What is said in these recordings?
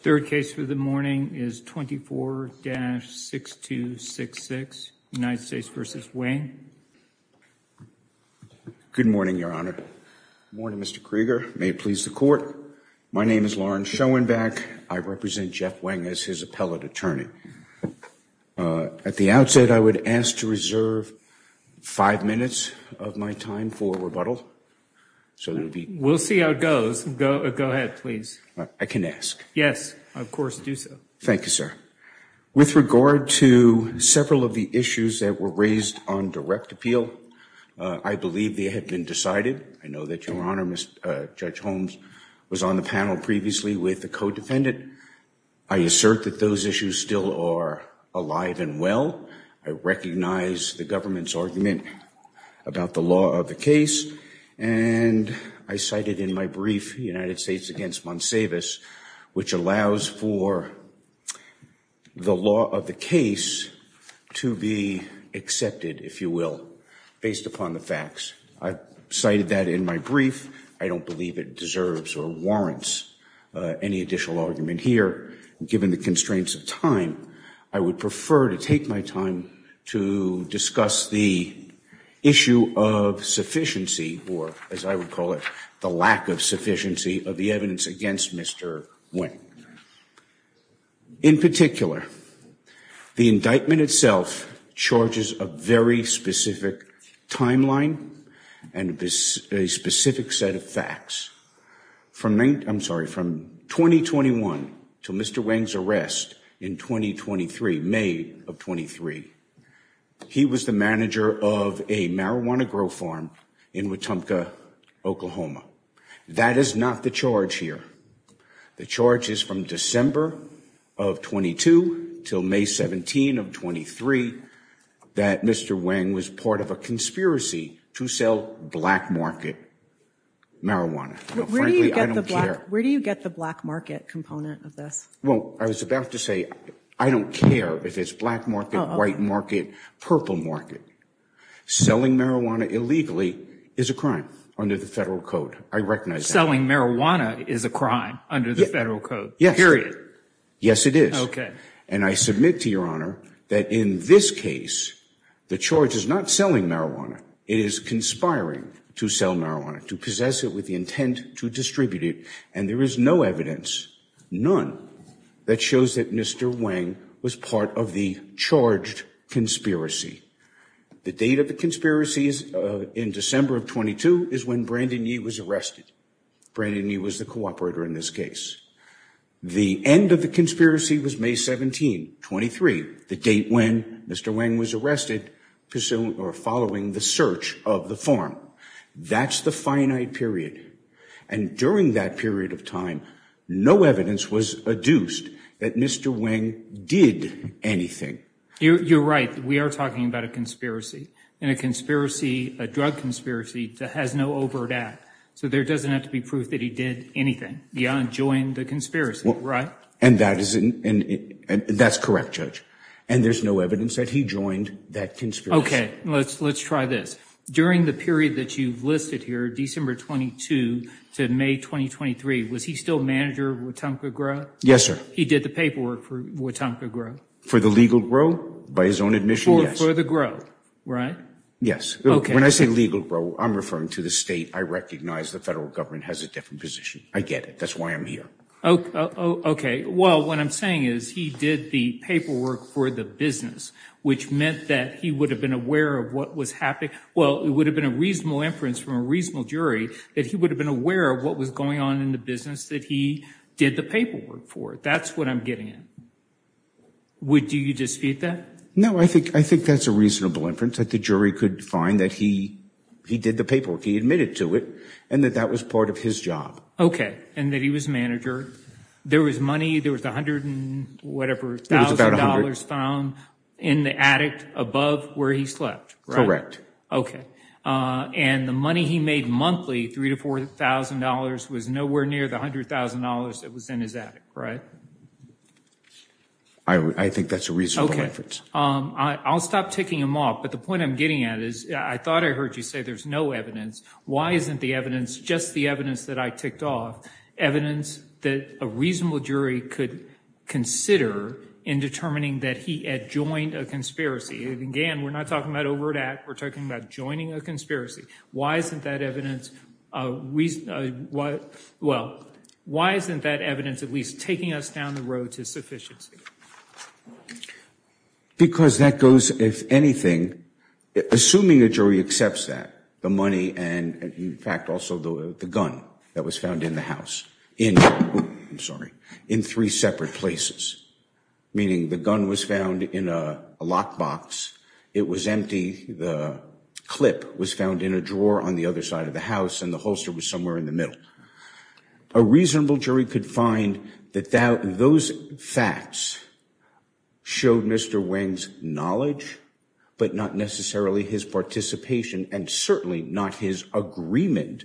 Third case for the morning is 24-6266, United States v. Weng. Good morning, Your Honor. Good morning, Mr. Krieger. May it please the Court. My name is Lawrence Schoenbach. I represent Jeff Weng as his appellate attorney. At the outset, I would ask to reserve five minutes of my time for rebuttal. We'll see how it goes. Go ahead, please. I can ask. Yes, of course, do so. Thank you, sir. With regard to several of the issues that were raised on direct appeal, I believe they have been decided. I know that Your Honor, Judge Holmes was on the panel previously with the co-defendant. I assert that those issues still are alive and well. I recognize the government's argument about the law of the case, and I cited in my brief United States v. Monsavis, which allows for the law of the case to be accepted, if you will, based upon the facts. I cited that in my brief. I don't believe it deserves or warrants any additional argument here. Given the constraints of time, I would prefer to take my time to discuss the issue of sufficiency, or as I would call it, the lack of sufficiency of the evidence against Mr. Weng. In particular, the indictment itself charges a very specific timeline and a specific set of facts. I'm sorry, from 2021 to Mr. Weng's arrest in 2023, May of 23, he was the manager of a marijuana grow farm in Wetumpka, Oklahoma. That is not the charge here. The charge is from December of 22 until May 17 of 23 that Mr. Weng was part of a conspiracy to sell black market marijuana. Frankly, I don't care. Where do you get the black market component of this? Well, I was about to say I don't care if it's black market, white market, purple market. Selling marijuana illegally is a crime under the federal code. I recognize that. Selling marijuana is a crime under the federal code, period. Yes, it is. And I submit to Your Honor that in this case, the charge is not selling marijuana. It is conspiring to sell marijuana, to possess it with the intent to distribute it. And there is no evidence, none, that shows that Mr. Weng was part of the charged conspiracy. The date of the conspiracy in December of 22 is when Brandon Yee was arrested. Brandon Yee was the cooperator in this case. The end of the conspiracy was May 17, 23, the date when Mr. Weng was arrested following the search of the farm. That's the finite period. And during that period of time, no evidence was adduced that Mr. Weng did anything. You're right. We are talking about a conspiracy. And a drug conspiracy has no overt act. So there doesn't have to be proof that he did anything beyond join the conspiracy, right? And that's correct, Judge. And there's no evidence that he joined that conspiracy. Okay, let's try this. During the period that you've listed here, December 22 to May 23, was he still manager of Wetumpa Grow? Yes, sir. He did the paperwork for Wetumpa Grow? For the legal grow, by his own admission, yes. For the grow, right? Yes. When I say legal grow, I'm referring to the state. I recognize the federal government has a different position. I get it. That's why I'm here. Okay. Well, what I'm saying is he did the paperwork for the business, which meant that he would have been aware of what was happening. Well, it would have been a reasonable inference from a reasonable jury that he would have been aware of what was going on in the business that he did the paperwork for. That's what I'm getting at. Would you dispute that? No, I think that's a reasonable inference, that the jury could find that he did the paperwork, he admitted to it, and that that was part of his job. Okay, and that he was manager. There was money, there was $100,000 found in the attic above where he slept, right? Okay. And the money he made monthly, $3,000 to $4,000, was nowhere near the $100,000 that was in his attic, right? I think that's a reasonable inference. Okay. I'll stop ticking him off, but the point I'm getting at is I thought I heard you say there's no evidence. Why isn't the evidence, just the evidence that I ticked off, evidence that a reasonable jury could consider in determining that he had joined a conspiracy? Again, we're not talking about overt act, we're talking about joining a conspiracy. Why isn't that evidence, well, why isn't that evidence at least taking us down the road to sufficiency? Because that goes, if anything, assuming a jury accepts that, the money and, in fact, also the gun that was found in the house, in three separate places. Meaning the gun was found in a lockbox, it was empty, the clip was found in a drawer on the other side of the house, and the holster was somewhere in the middle. A reasonable jury could find that those facts showed Mr. Wang's knowledge, but not necessarily his participation, and certainly not his agreement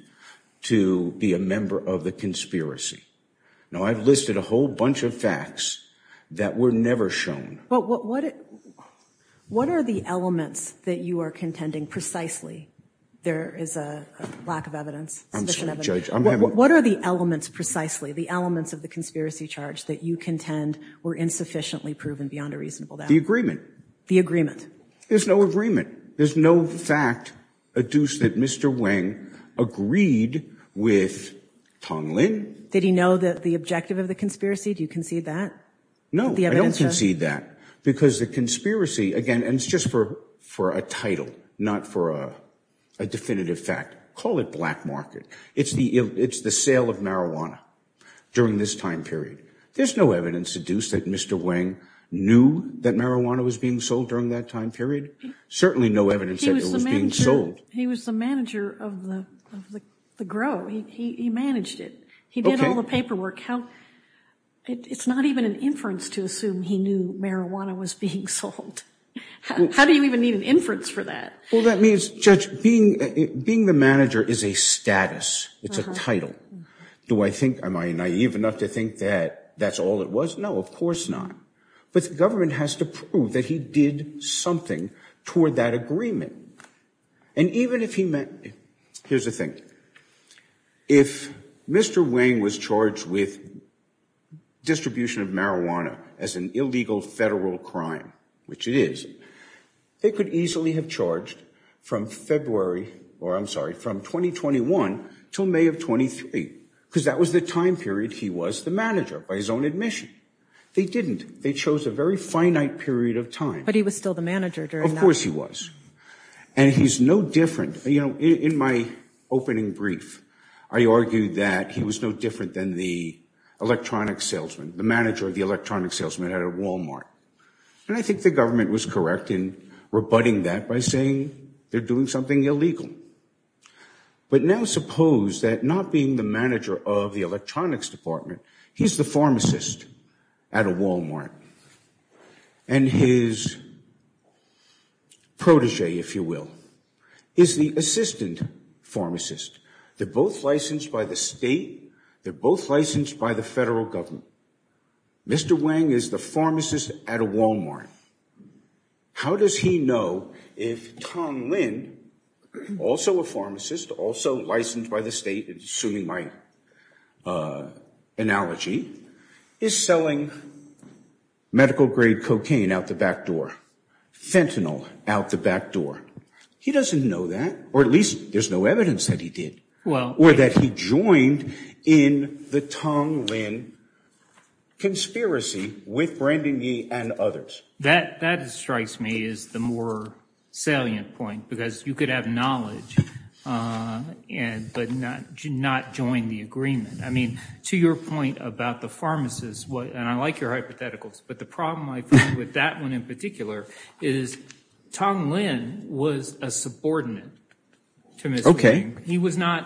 to be a member of the conspiracy. Now, I've listed a whole bunch of facts that were never shown. But what are the elements that you are contending precisely there is a lack of evidence? I'm sorry, Judge. What are the elements precisely, the elements of the conspiracy charge that you contend were insufficiently proven beyond a reasonable doubt? The agreement. The agreement. There's no agreement. There's no fact adduced that Mr. Wang agreed with Tong Lin. Did he know the objective of the conspiracy? Do you concede that? No, I don't concede that. Because the conspiracy, again, and it's just for a title, not for a definitive fact. Call it black market. It's the sale of marijuana during this time period. There's no evidence adduced that Mr. Wang knew that marijuana was being sold during that time period. Certainly no evidence that it was being sold. He was the manager of the grow. He managed it. He did all the paperwork. It's not even an inference to assume he knew marijuana was being sold. How do you even need an inference for that? Well, that means, Judge, being the manager is a status. It's a title. Do I think, am I naive enough to think that that's all it was? No, of course not. But the government has to prove that he did something toward that agreement. And even if he meant, here's the thing. If Mr. Wang was charged with distribution of marijuana as an illegal federal crime, which it is, they could easily have charged from February, or I'm sorry, from 2021 till May of 23. Because that was the time period he was the manager, by his own admission. They didn't. They chose a very finite period of time. But he was still the manager during that time. Of course he was. And he's no different. You know, in my opening brief, I argued that he was no different than the electronic salesman, the manager of the electronic salesman at a Walmart. And I think the government was correct in rebutting that by saying they're doing something illegal. But now suppose that not being the manager of the electronics department, he's the pharmacist at a Walmart. And his protege, if you will, is the assistant pharmacist. They're both licensed by the state. They're both licensed by the federal government. Mr. Wang is the pharmacist at a Walmart. How does he know if Tong Lin, also a pharmacist, also licensed by the state, assuming my analogy, is selling medical grade cocaine out the back door, fentanyl out the back door? He doesn't know that. Or at least there's no evidence that he did. Or that he joined in the Tong Lin conspiracy with Brandon Yee and others. That strikes me as the more salient point, because you could have knowledge but not join the agreement. I mean, to your point about the pharmacist, and I like your hypotheticals, but the problem I find with that one in particular is Tong Lin was a subordinate to Mr. Yee. He was not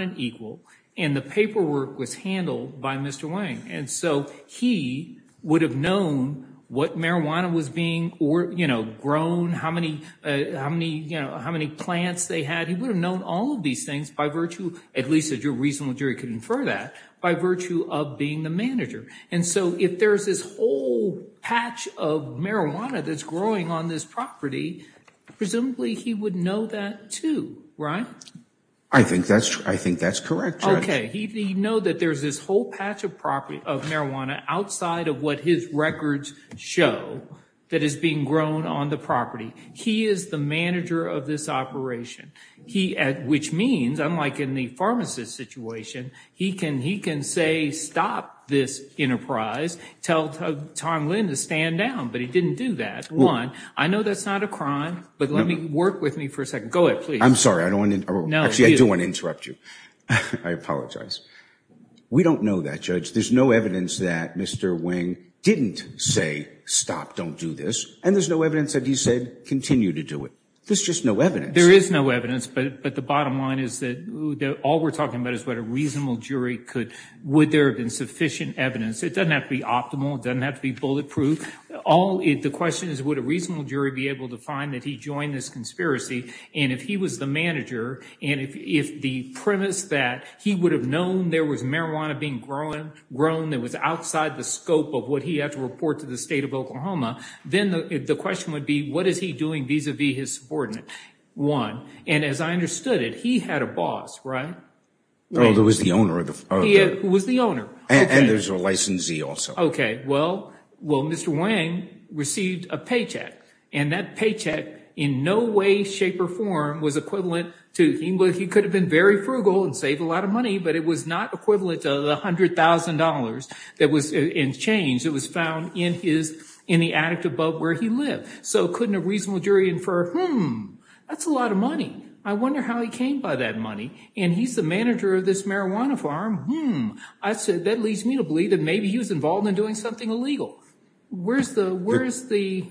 an equal. And the paperwork was handled by Mr. Wang. And so he would have known what marijuana was being grown, how many plants they had. He would have known all of these things by virtue, at least a reasonable jury could infer that, by virtue of being the manager. And so if there's this whole patch of marijuana that's growing on this property, presumably he would know that too, right? I think that's correct, Judge. Okay, he'd know that there's this whole patch of marijuana outside of what his records show that is being grown on the property. He is the manager of this operation. Which means, unlike in the pharmacist situation, he can say stop this enterprise, tell Tong Lin to stand down. But he didn't do that. One, I know that's not a crime, but let me work with me for a second. Go ahead, please. I'm sorry. Actually, I do want to interrupt you. I apologize. We don't know that, Judge. There's no evidence that Mr. Wang didn't say stop, don't do this. And there's no evidence that he said continue to do it. There's just no evidence. There is no evidence. But the bottom line is that all we're talking about is what a reasonable jury could, would there have been sufficient evidence. It doesn't have to be optimal. It doesn't have to be bulletproof. The question is, would a reasonable jury be able to find that he joined this conspiracy? And if he was the manager, and if the premise that he would have known there was marijuana being grown that was outside the scope of what he had to report to the state of Oklahoma, then the question would be, what is he doing vis-a-vis his subordinate? One, and as I understood it, he had a boss, right? Oh, it was the owner. Who was the owner? And there's a licensee also. Okay. Well, Mr. Wang received a paycheck, and that paycheck in no way, shape, or form was equivalent to, he could have been very frugal and saved a lot of money, but it was not equivalent to the $100,000 in change that was found in the attic above where he lived. So couldn't a reasonable jury infer, hmm, that's a lot of money. I wonder how he came by that money. And he's the manager of this marijuana farm. Hmm. That leads me to believe that maybe he was involved in doing something illegal. Where's the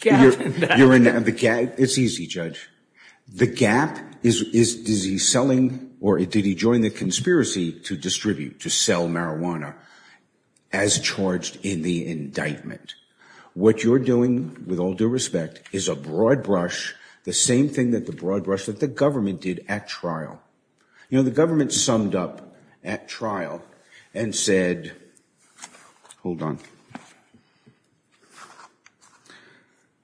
gap in that? It's easy, Judge. The gap is, is he selling or did he join the conspiracy to distribute, to sell marijuana as charged in the indictment? What you're doing, with all due respect, is a broad brush, the same thing that the broad brush that the government did at trial. You know, the government summed up at trial and said, hold on.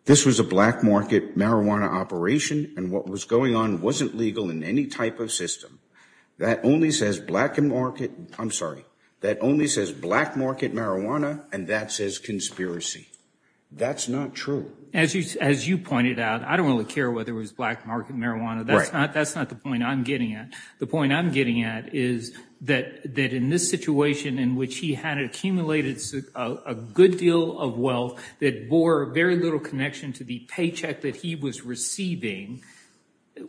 This was a black market marijuana operation, and what was going on wasn't legal in any type of system. That only says black market, I'm sorry, that only says black market marijuana, and that says conspiracy. That's not true. As you, as you pointed out, I don't really care whether it was black market marijuana. Right. That's not, that's not the point I'm getting at. The point I'm getting at is that, that in this situation in which he had accumulated a good deal of wealth that bore very little connection to the paycheck that he was receiving.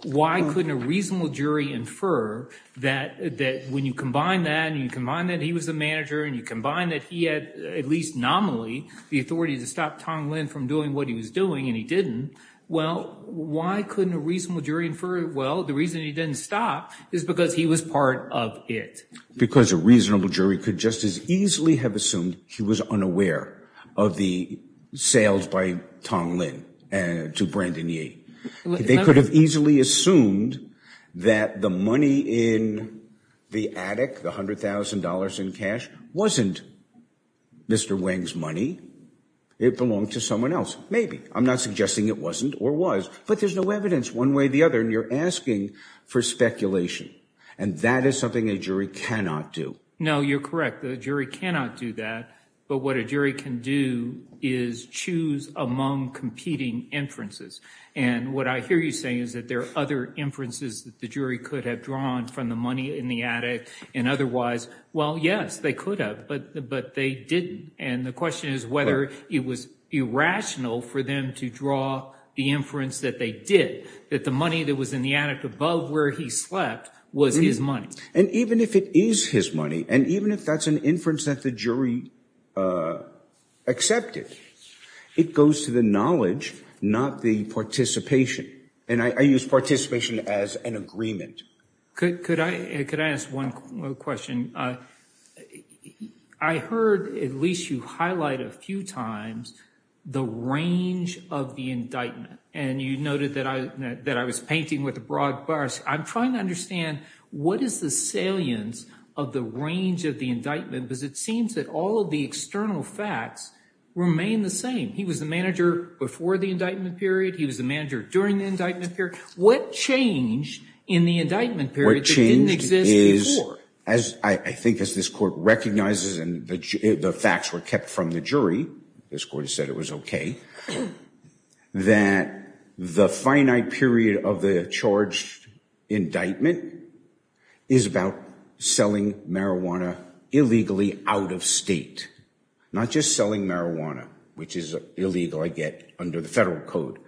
Why couldn't a reasonable jury infer that, that when you combine that and you combine that he was a manager and you combine that he had at least nominally the authority to stop Tong Lin from doing what he was doing and he didn't. Well, why couldn't a reasonable jury infer, well, the reason he didn't stop is because he was part of it. Because a reasonable jury could just as easily have assumed he was unaware of the sales by Tong Lin to Brandon Yee. They could have easily assumed that the money in the attic, the $100,000 in cash, wasn't Mr. Wang's money. It belonged to someone else. Maybe. I'm not suggesting it wasn't or was. But there's no evidence one way or the other and you're asking for speculation. And that is something a jury cannot do. No, you're correct. The jury cannot do that. But what a jury can do is choose among competing inferences. And what I hear you saying is that there are other inferences that the jury could have drawn from the money in the attic and otherwise. Well, yes, they could have. But they didn't. And the question is whether it was irrational for them to draw the inference that they did. That the money that was in the attic above where he slept was his money. And even if it is his money and even if that's an inference that the jury accepted, it goes to the knowledge, not the participation. And I use participation as an agreement. Could I ask one question? I heard at least you highlight a few times the range of the indictment. And you noted that I was painting with a broad brush. I'm trying to understand what is the salience of the range of the indictment because it seems that all of the external facts remain the same. He was the manager before the indictment period. He was the manager during the indictment period. What changed in the indictment period that didn't exist before? I think as this court recognizes and the facts were kept from the jury, this court said it was okay, that the finite period of the charged indictment is about selling marijuana illegally out of state. Not just selling marijuana, which is illegal, I get, under the federal code.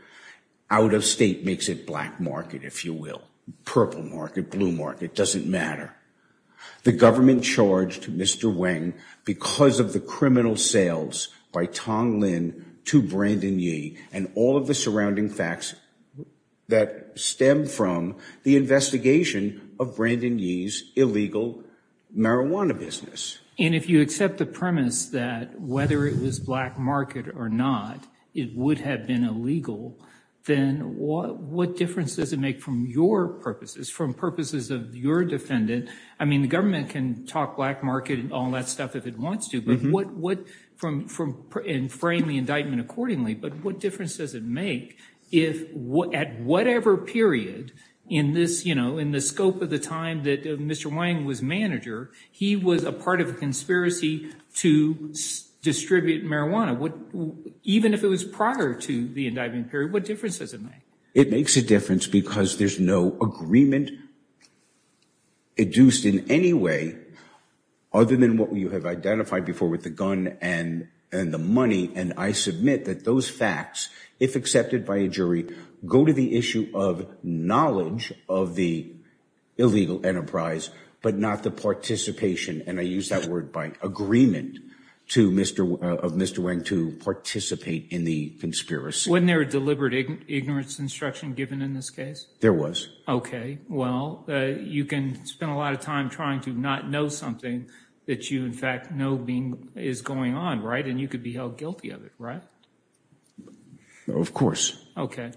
Out of state makes it black market, if you will. Purple market, blue market, it doesn't matter. The government charged Mr. Wang because of the criminal sales by Tong Lin to Brandon Yee and all of the surrounding facts that stem from the investigation of Brandon Yee's illegal marijuana business. And if you accept the premise that whether it was black market or not, it would have been illegal, then what difference does it make from your purposes, from purposes of your defendant? I mean, the government can talk black market and all that stuff if it wants to, and frame the indictment accordingly, but what difference does it make if at whatever period in the scope of the time that Mr. Wang was manager, he was a part of a conspiracy to distribute marijuana? Even if it was prior to the indictment period, what difference does it make? It makes a difference because there's no agreement induced in any way other than what you have identified before with the gun and the money, and I submit that those facts, if accepted by a jury, go to the issue of knowledge of the illegal enterprise, but not the participation, and I use that word by agreement, of Mr. Wang to participate in the conspiracy. Wasn't there a deliberate ignorance instruction given in this case? There was. Okay, well, you can spend a lot of time trying to not know something that you, in fact, know is going on, right? And you could be held guilty of it, right? Of course. Okay.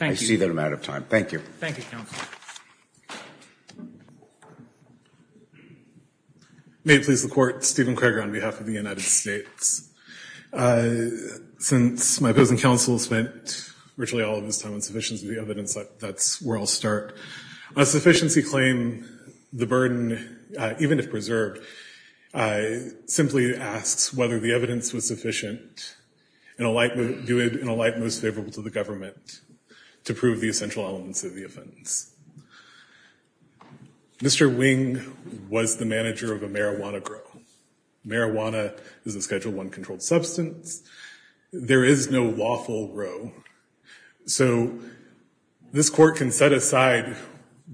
I see that I'm out of time. Thank you. Thank you, Counsel. May it please the Court, Stephen Kreger on behalf of the United States. Since my opposing counsel has spent virtually all of his time on sufficiency of the evidence, that's where I'll start. A sufficiency claim, the burden, even if preserved, simply asks whether the evidence was sufficient and do it in a light most favorable to the government to prove the essential elements of the offense. Mr. Wang was the manager of a marijuana grow. Marijuana is a Schedule I controlled substance. There is no lawful grow, so this Court can set aside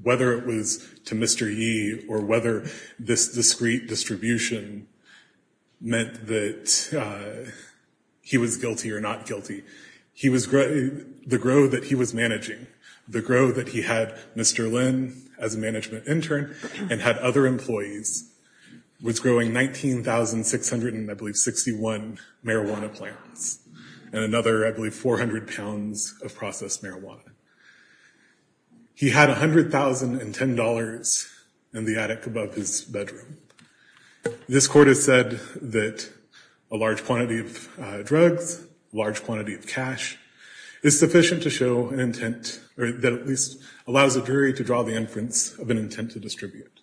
whether it was to Mr. Yee or whether this discrete distribution meant that he was guilty or not guilty. The grow that he was managing, the grow that he had Mr. Lin as a management intern and had other employees was growing 19,661 marijuana plants and another, I believe, 400 pounds of processed marijuana. He had $100,010 in the attic above his bedroom. This Court has said that a large quantity of drugs, a large quantity of cash, is sufficient to show an intent or that at least allows a jury to draw the inference of an intent to distribute.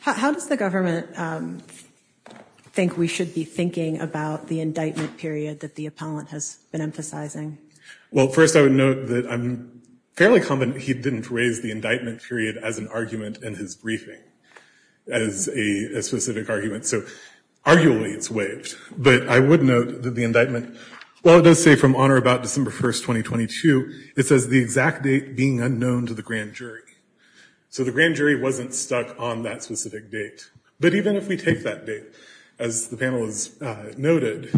How does the government think we should be thinking about the indictment period that the appellant has been emphasizing? Well, first I would note that I'm fairly confident he didn't raise the indictment period as an argument in his briefing, as a specific argument, so arguably it's waived. But I would note that the indictment, while it does say from honor about December 1st, 2022, it says the exact date being unknown to the grand jury. So the grand jury wasn't stuck on that specific date. But even if we take that date, as the panel has noted,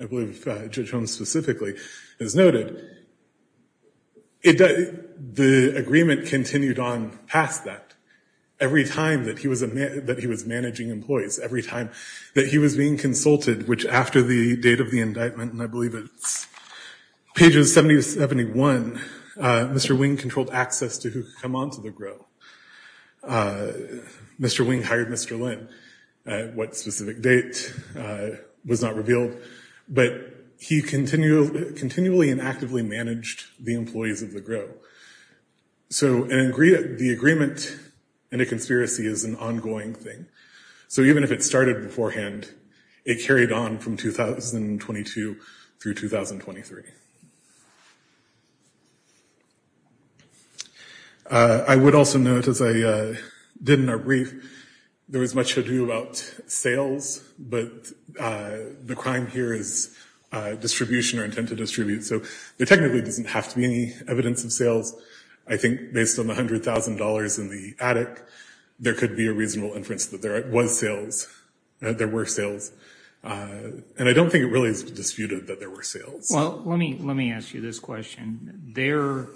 I believe Judge Holmes specifically has noted, the agreement continued on past that. Every time that he was managing employees, every time that he was being consulted, which after the date of the indictment, and I believe it's pages 70 to 71, Mr. Wing controlled access to who could come onto the grow. Mr. Wing hired Mr. Lin. What specific date was not revealed. But he continually and actively managed the employees of the grow. So the agreement in a conspiracy is an ongoing thing. So even if it started beforehand, it carried on from 2022 through 2023. I would also note, as I did in our brief, there was much to do about sales. But the crime here is distribution or intent to distribute. So there technically doesn't have to be any evidence of sales. I think based on $100,000 in the attic, there could be a reasonable inference that there was sales. There were sales. And I don't think it really is disputed that there were sales. Well, let me let me ask you this question. There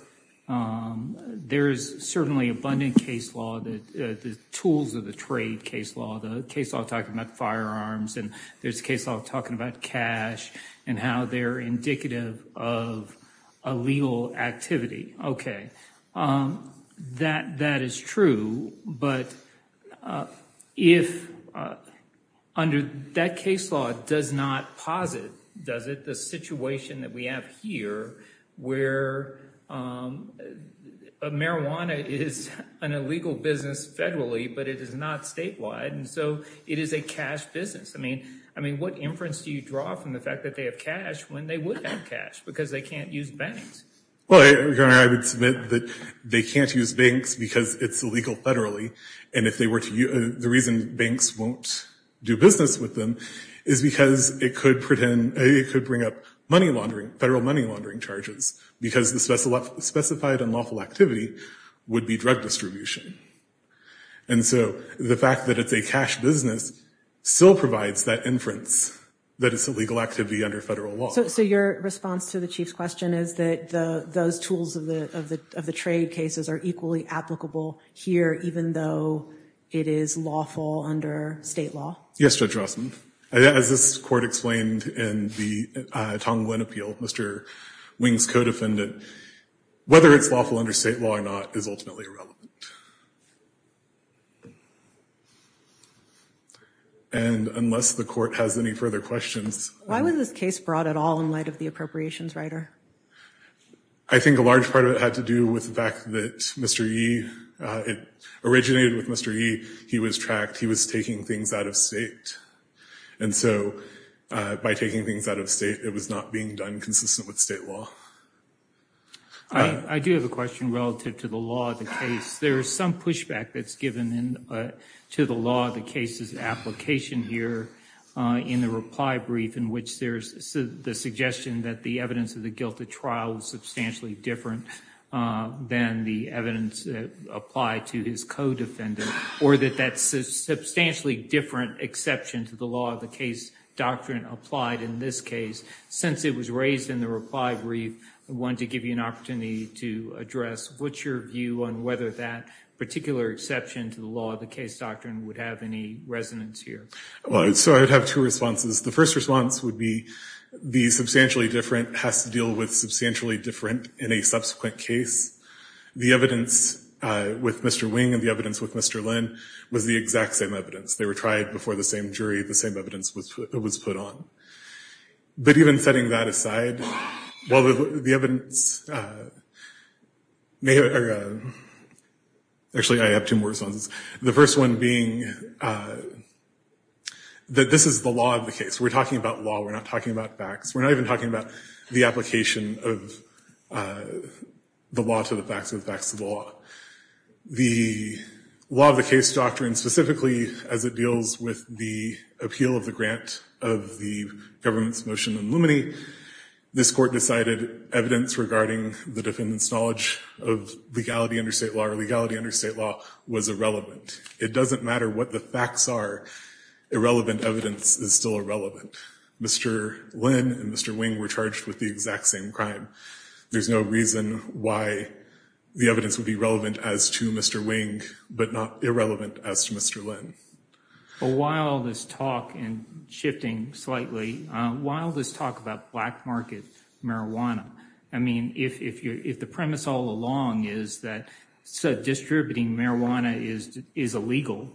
there is certainly abundant case law that the tools of the trade case law, the case of talking about firearms and there's a case of talking about cash and how they're indicative of a legal activity. OK, that that is true. But if under that case law does not posit, does it? The situation that we have here where marijuana is an illegal business federally, but it is not statewide. And so it is a cash business. I mean, I mean, what inference do you draw from the fact that they have cash when they would have cash because they can't use banks? Well, I would submit that they can't use banks because it's illegal federally. And if they were to use the reason banks won't do business with them is because it could pretend it could bring up money laundering, federal money laundering charges because the specified unlawful activity would be drug distribution. And so the fact that it's a cash business still provides that inference that it's illegal activity under federal law. So your response to the chief's question is that those tools of the of the of the trade cases are equally applicable here, even though it is lawful under state law? Yes, Judge Rossman, as this court explained in the Tonglin appeal, Mr. Wings co-defendant, whether it's lawful under state law or not is ultimately irrelevant. And unless the court has any further questions. Why was this case brought at all in light of the appropriations writer? I think a large part of it had to do with the fact that Mr. E. It originated with Mr. E. He was tracked. He was taking things out of state. And so by taking things out of state, it was not being done consistent with state law. I do have a question relative to the law of the case. There is some pushback that's given to the law of the cases application here in the reply brief, in which there is the suggestion that the evidence of the guilt of trial was substantially different than the evidence applied to his co-defendant, or that that's a substantially different exception to the law of the case doctrine applied in this case. Since it was raised in the reply brief, I want to give you an opportunity to address what's your view on whether that particular exception to the law of the case doctrine would have any resonance here? Well, so I would have two responses. The first response would be the substantially different has to deal with substantially different in a subsequent case. The evidence with Mr. Wing and the evidence with Mr. Lynn was the exact same evidence. They were tried before the same jury. The same evidence was put on. But even setting that aside, while the evidence may have – actually, I have two more responses. The first one being that this is the law of the case. We're talking about law. We're not talking about facts. We're not even talking about the application of the law to the facts of the facts of the law. The law of the case doctrine, specifically as it deals with the appeal of the grant of the government's motion in Lumine, this court decided evidence regarding the defendant's knowledge of legality under state law or legality under state law was irrelevant. It doesn't matter what the facts are. Irrelevant evidence is still irrelevant. Mr. Lynn and Mr. Wing were charged with the exact same crime. There's no reason why the evidence would be relevant as to Mr. Wing but not irrelevant as to Mr. Lynn. While this talk – and shifting slightly – while this talk about black market marijuana, I mean, if the premise all along is that distributing marijuana is illegal,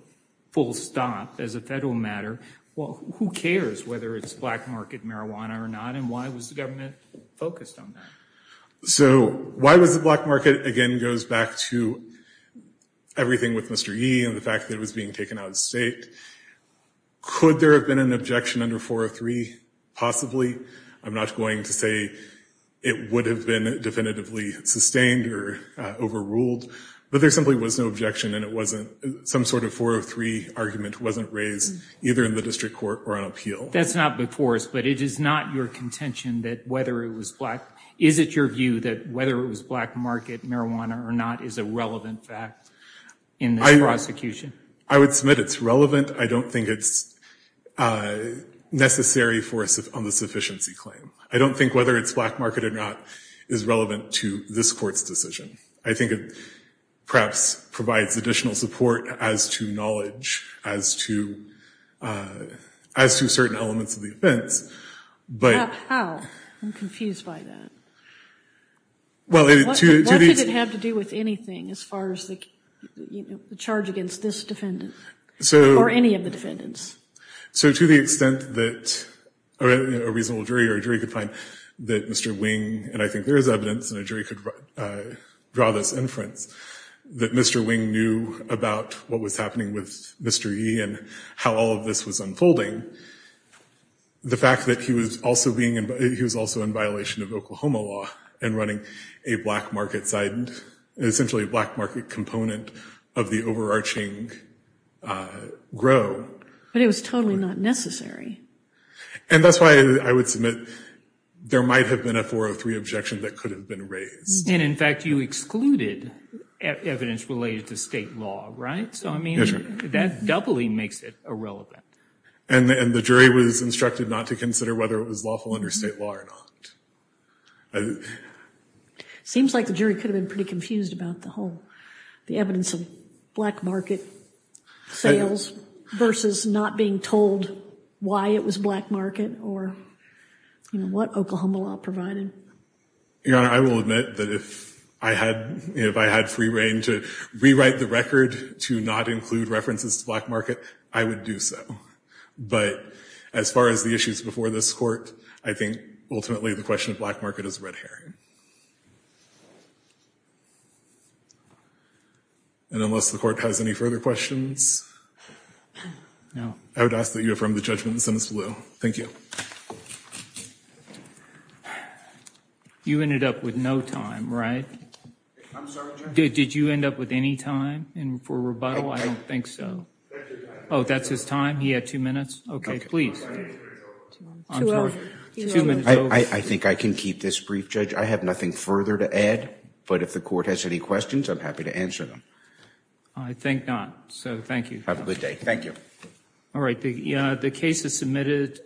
full stop, as a federal matter, well, who cares whether it's black market marijuana or not and why was the government focused on that? So, why was it black market, again, goes back to everything with Mr. Yee and the fact that it was being taken out of state. Could there have been an objection under 403? Possibly. I'm not going to say it would have been definitively sustained or overruled, but there simply was no objection and some sort of 403 argument wasn't raised either in the district court or on appeal. That's not before us, but it is not your contention that whether it was black – is it your view that whether it was black market marijuana or not is a relevant fact in this prosecution? I would submit it's relevant. I don't think it's necessary on the sufficiency claim. I don't think whether it's black market or not is relevant to this court's decision. I think it perhaps provides additional support as to knowledge, as to certain elements of the offense. How? I'm confused by that. What did it have to do with anything as far as the charge against this defendant or any of the defendants? So to the extent that a reasonable jury or a jury could find that Mr. Wing – and I think there is evidence and a jury could draw this inference – that Mr. Wing knew about what was happening with Mr. Yee and how all of this was unfolding, the fact that he was also being – he was also in violation of Oklahoma law and running a black market – essentially a black market component of the overarching grow. But it was totally not necessary. And that's why I would submit there might have been a 403 objection that could have been raised. And in fact you excluded evidence related to state law, right? So I mean that doubly makes it irrelevant. And the jury was instructed not to consider whether it was lawful under state law or not. Seems like the jury could have been pretty confused about the whole – the evidence of black market sales versus not being told why it was black market or, you know, what Oklahoma law provided. Your Honor, I will admit that if I had free reign to rewrite the record to not include references to black market, I would do so. But as far as the issues before this court, I think ultimately the question of black market is red herring. And unless the court has any further questions, I would ask that you affirm the judgment in the sentence below. Thank you. You ended up with no time, right? I'm sorry, Judge? Did you end up with any time for rebuttal? I don't think so. That's his time. He had two minutes. Okay, please. I think I can keep this brief, Judge. I have nothing further to add. But if the court has any questions, I'm happy to answer them. I think not. So thank you. Have a good day. Thank you. All right. The case is submitted.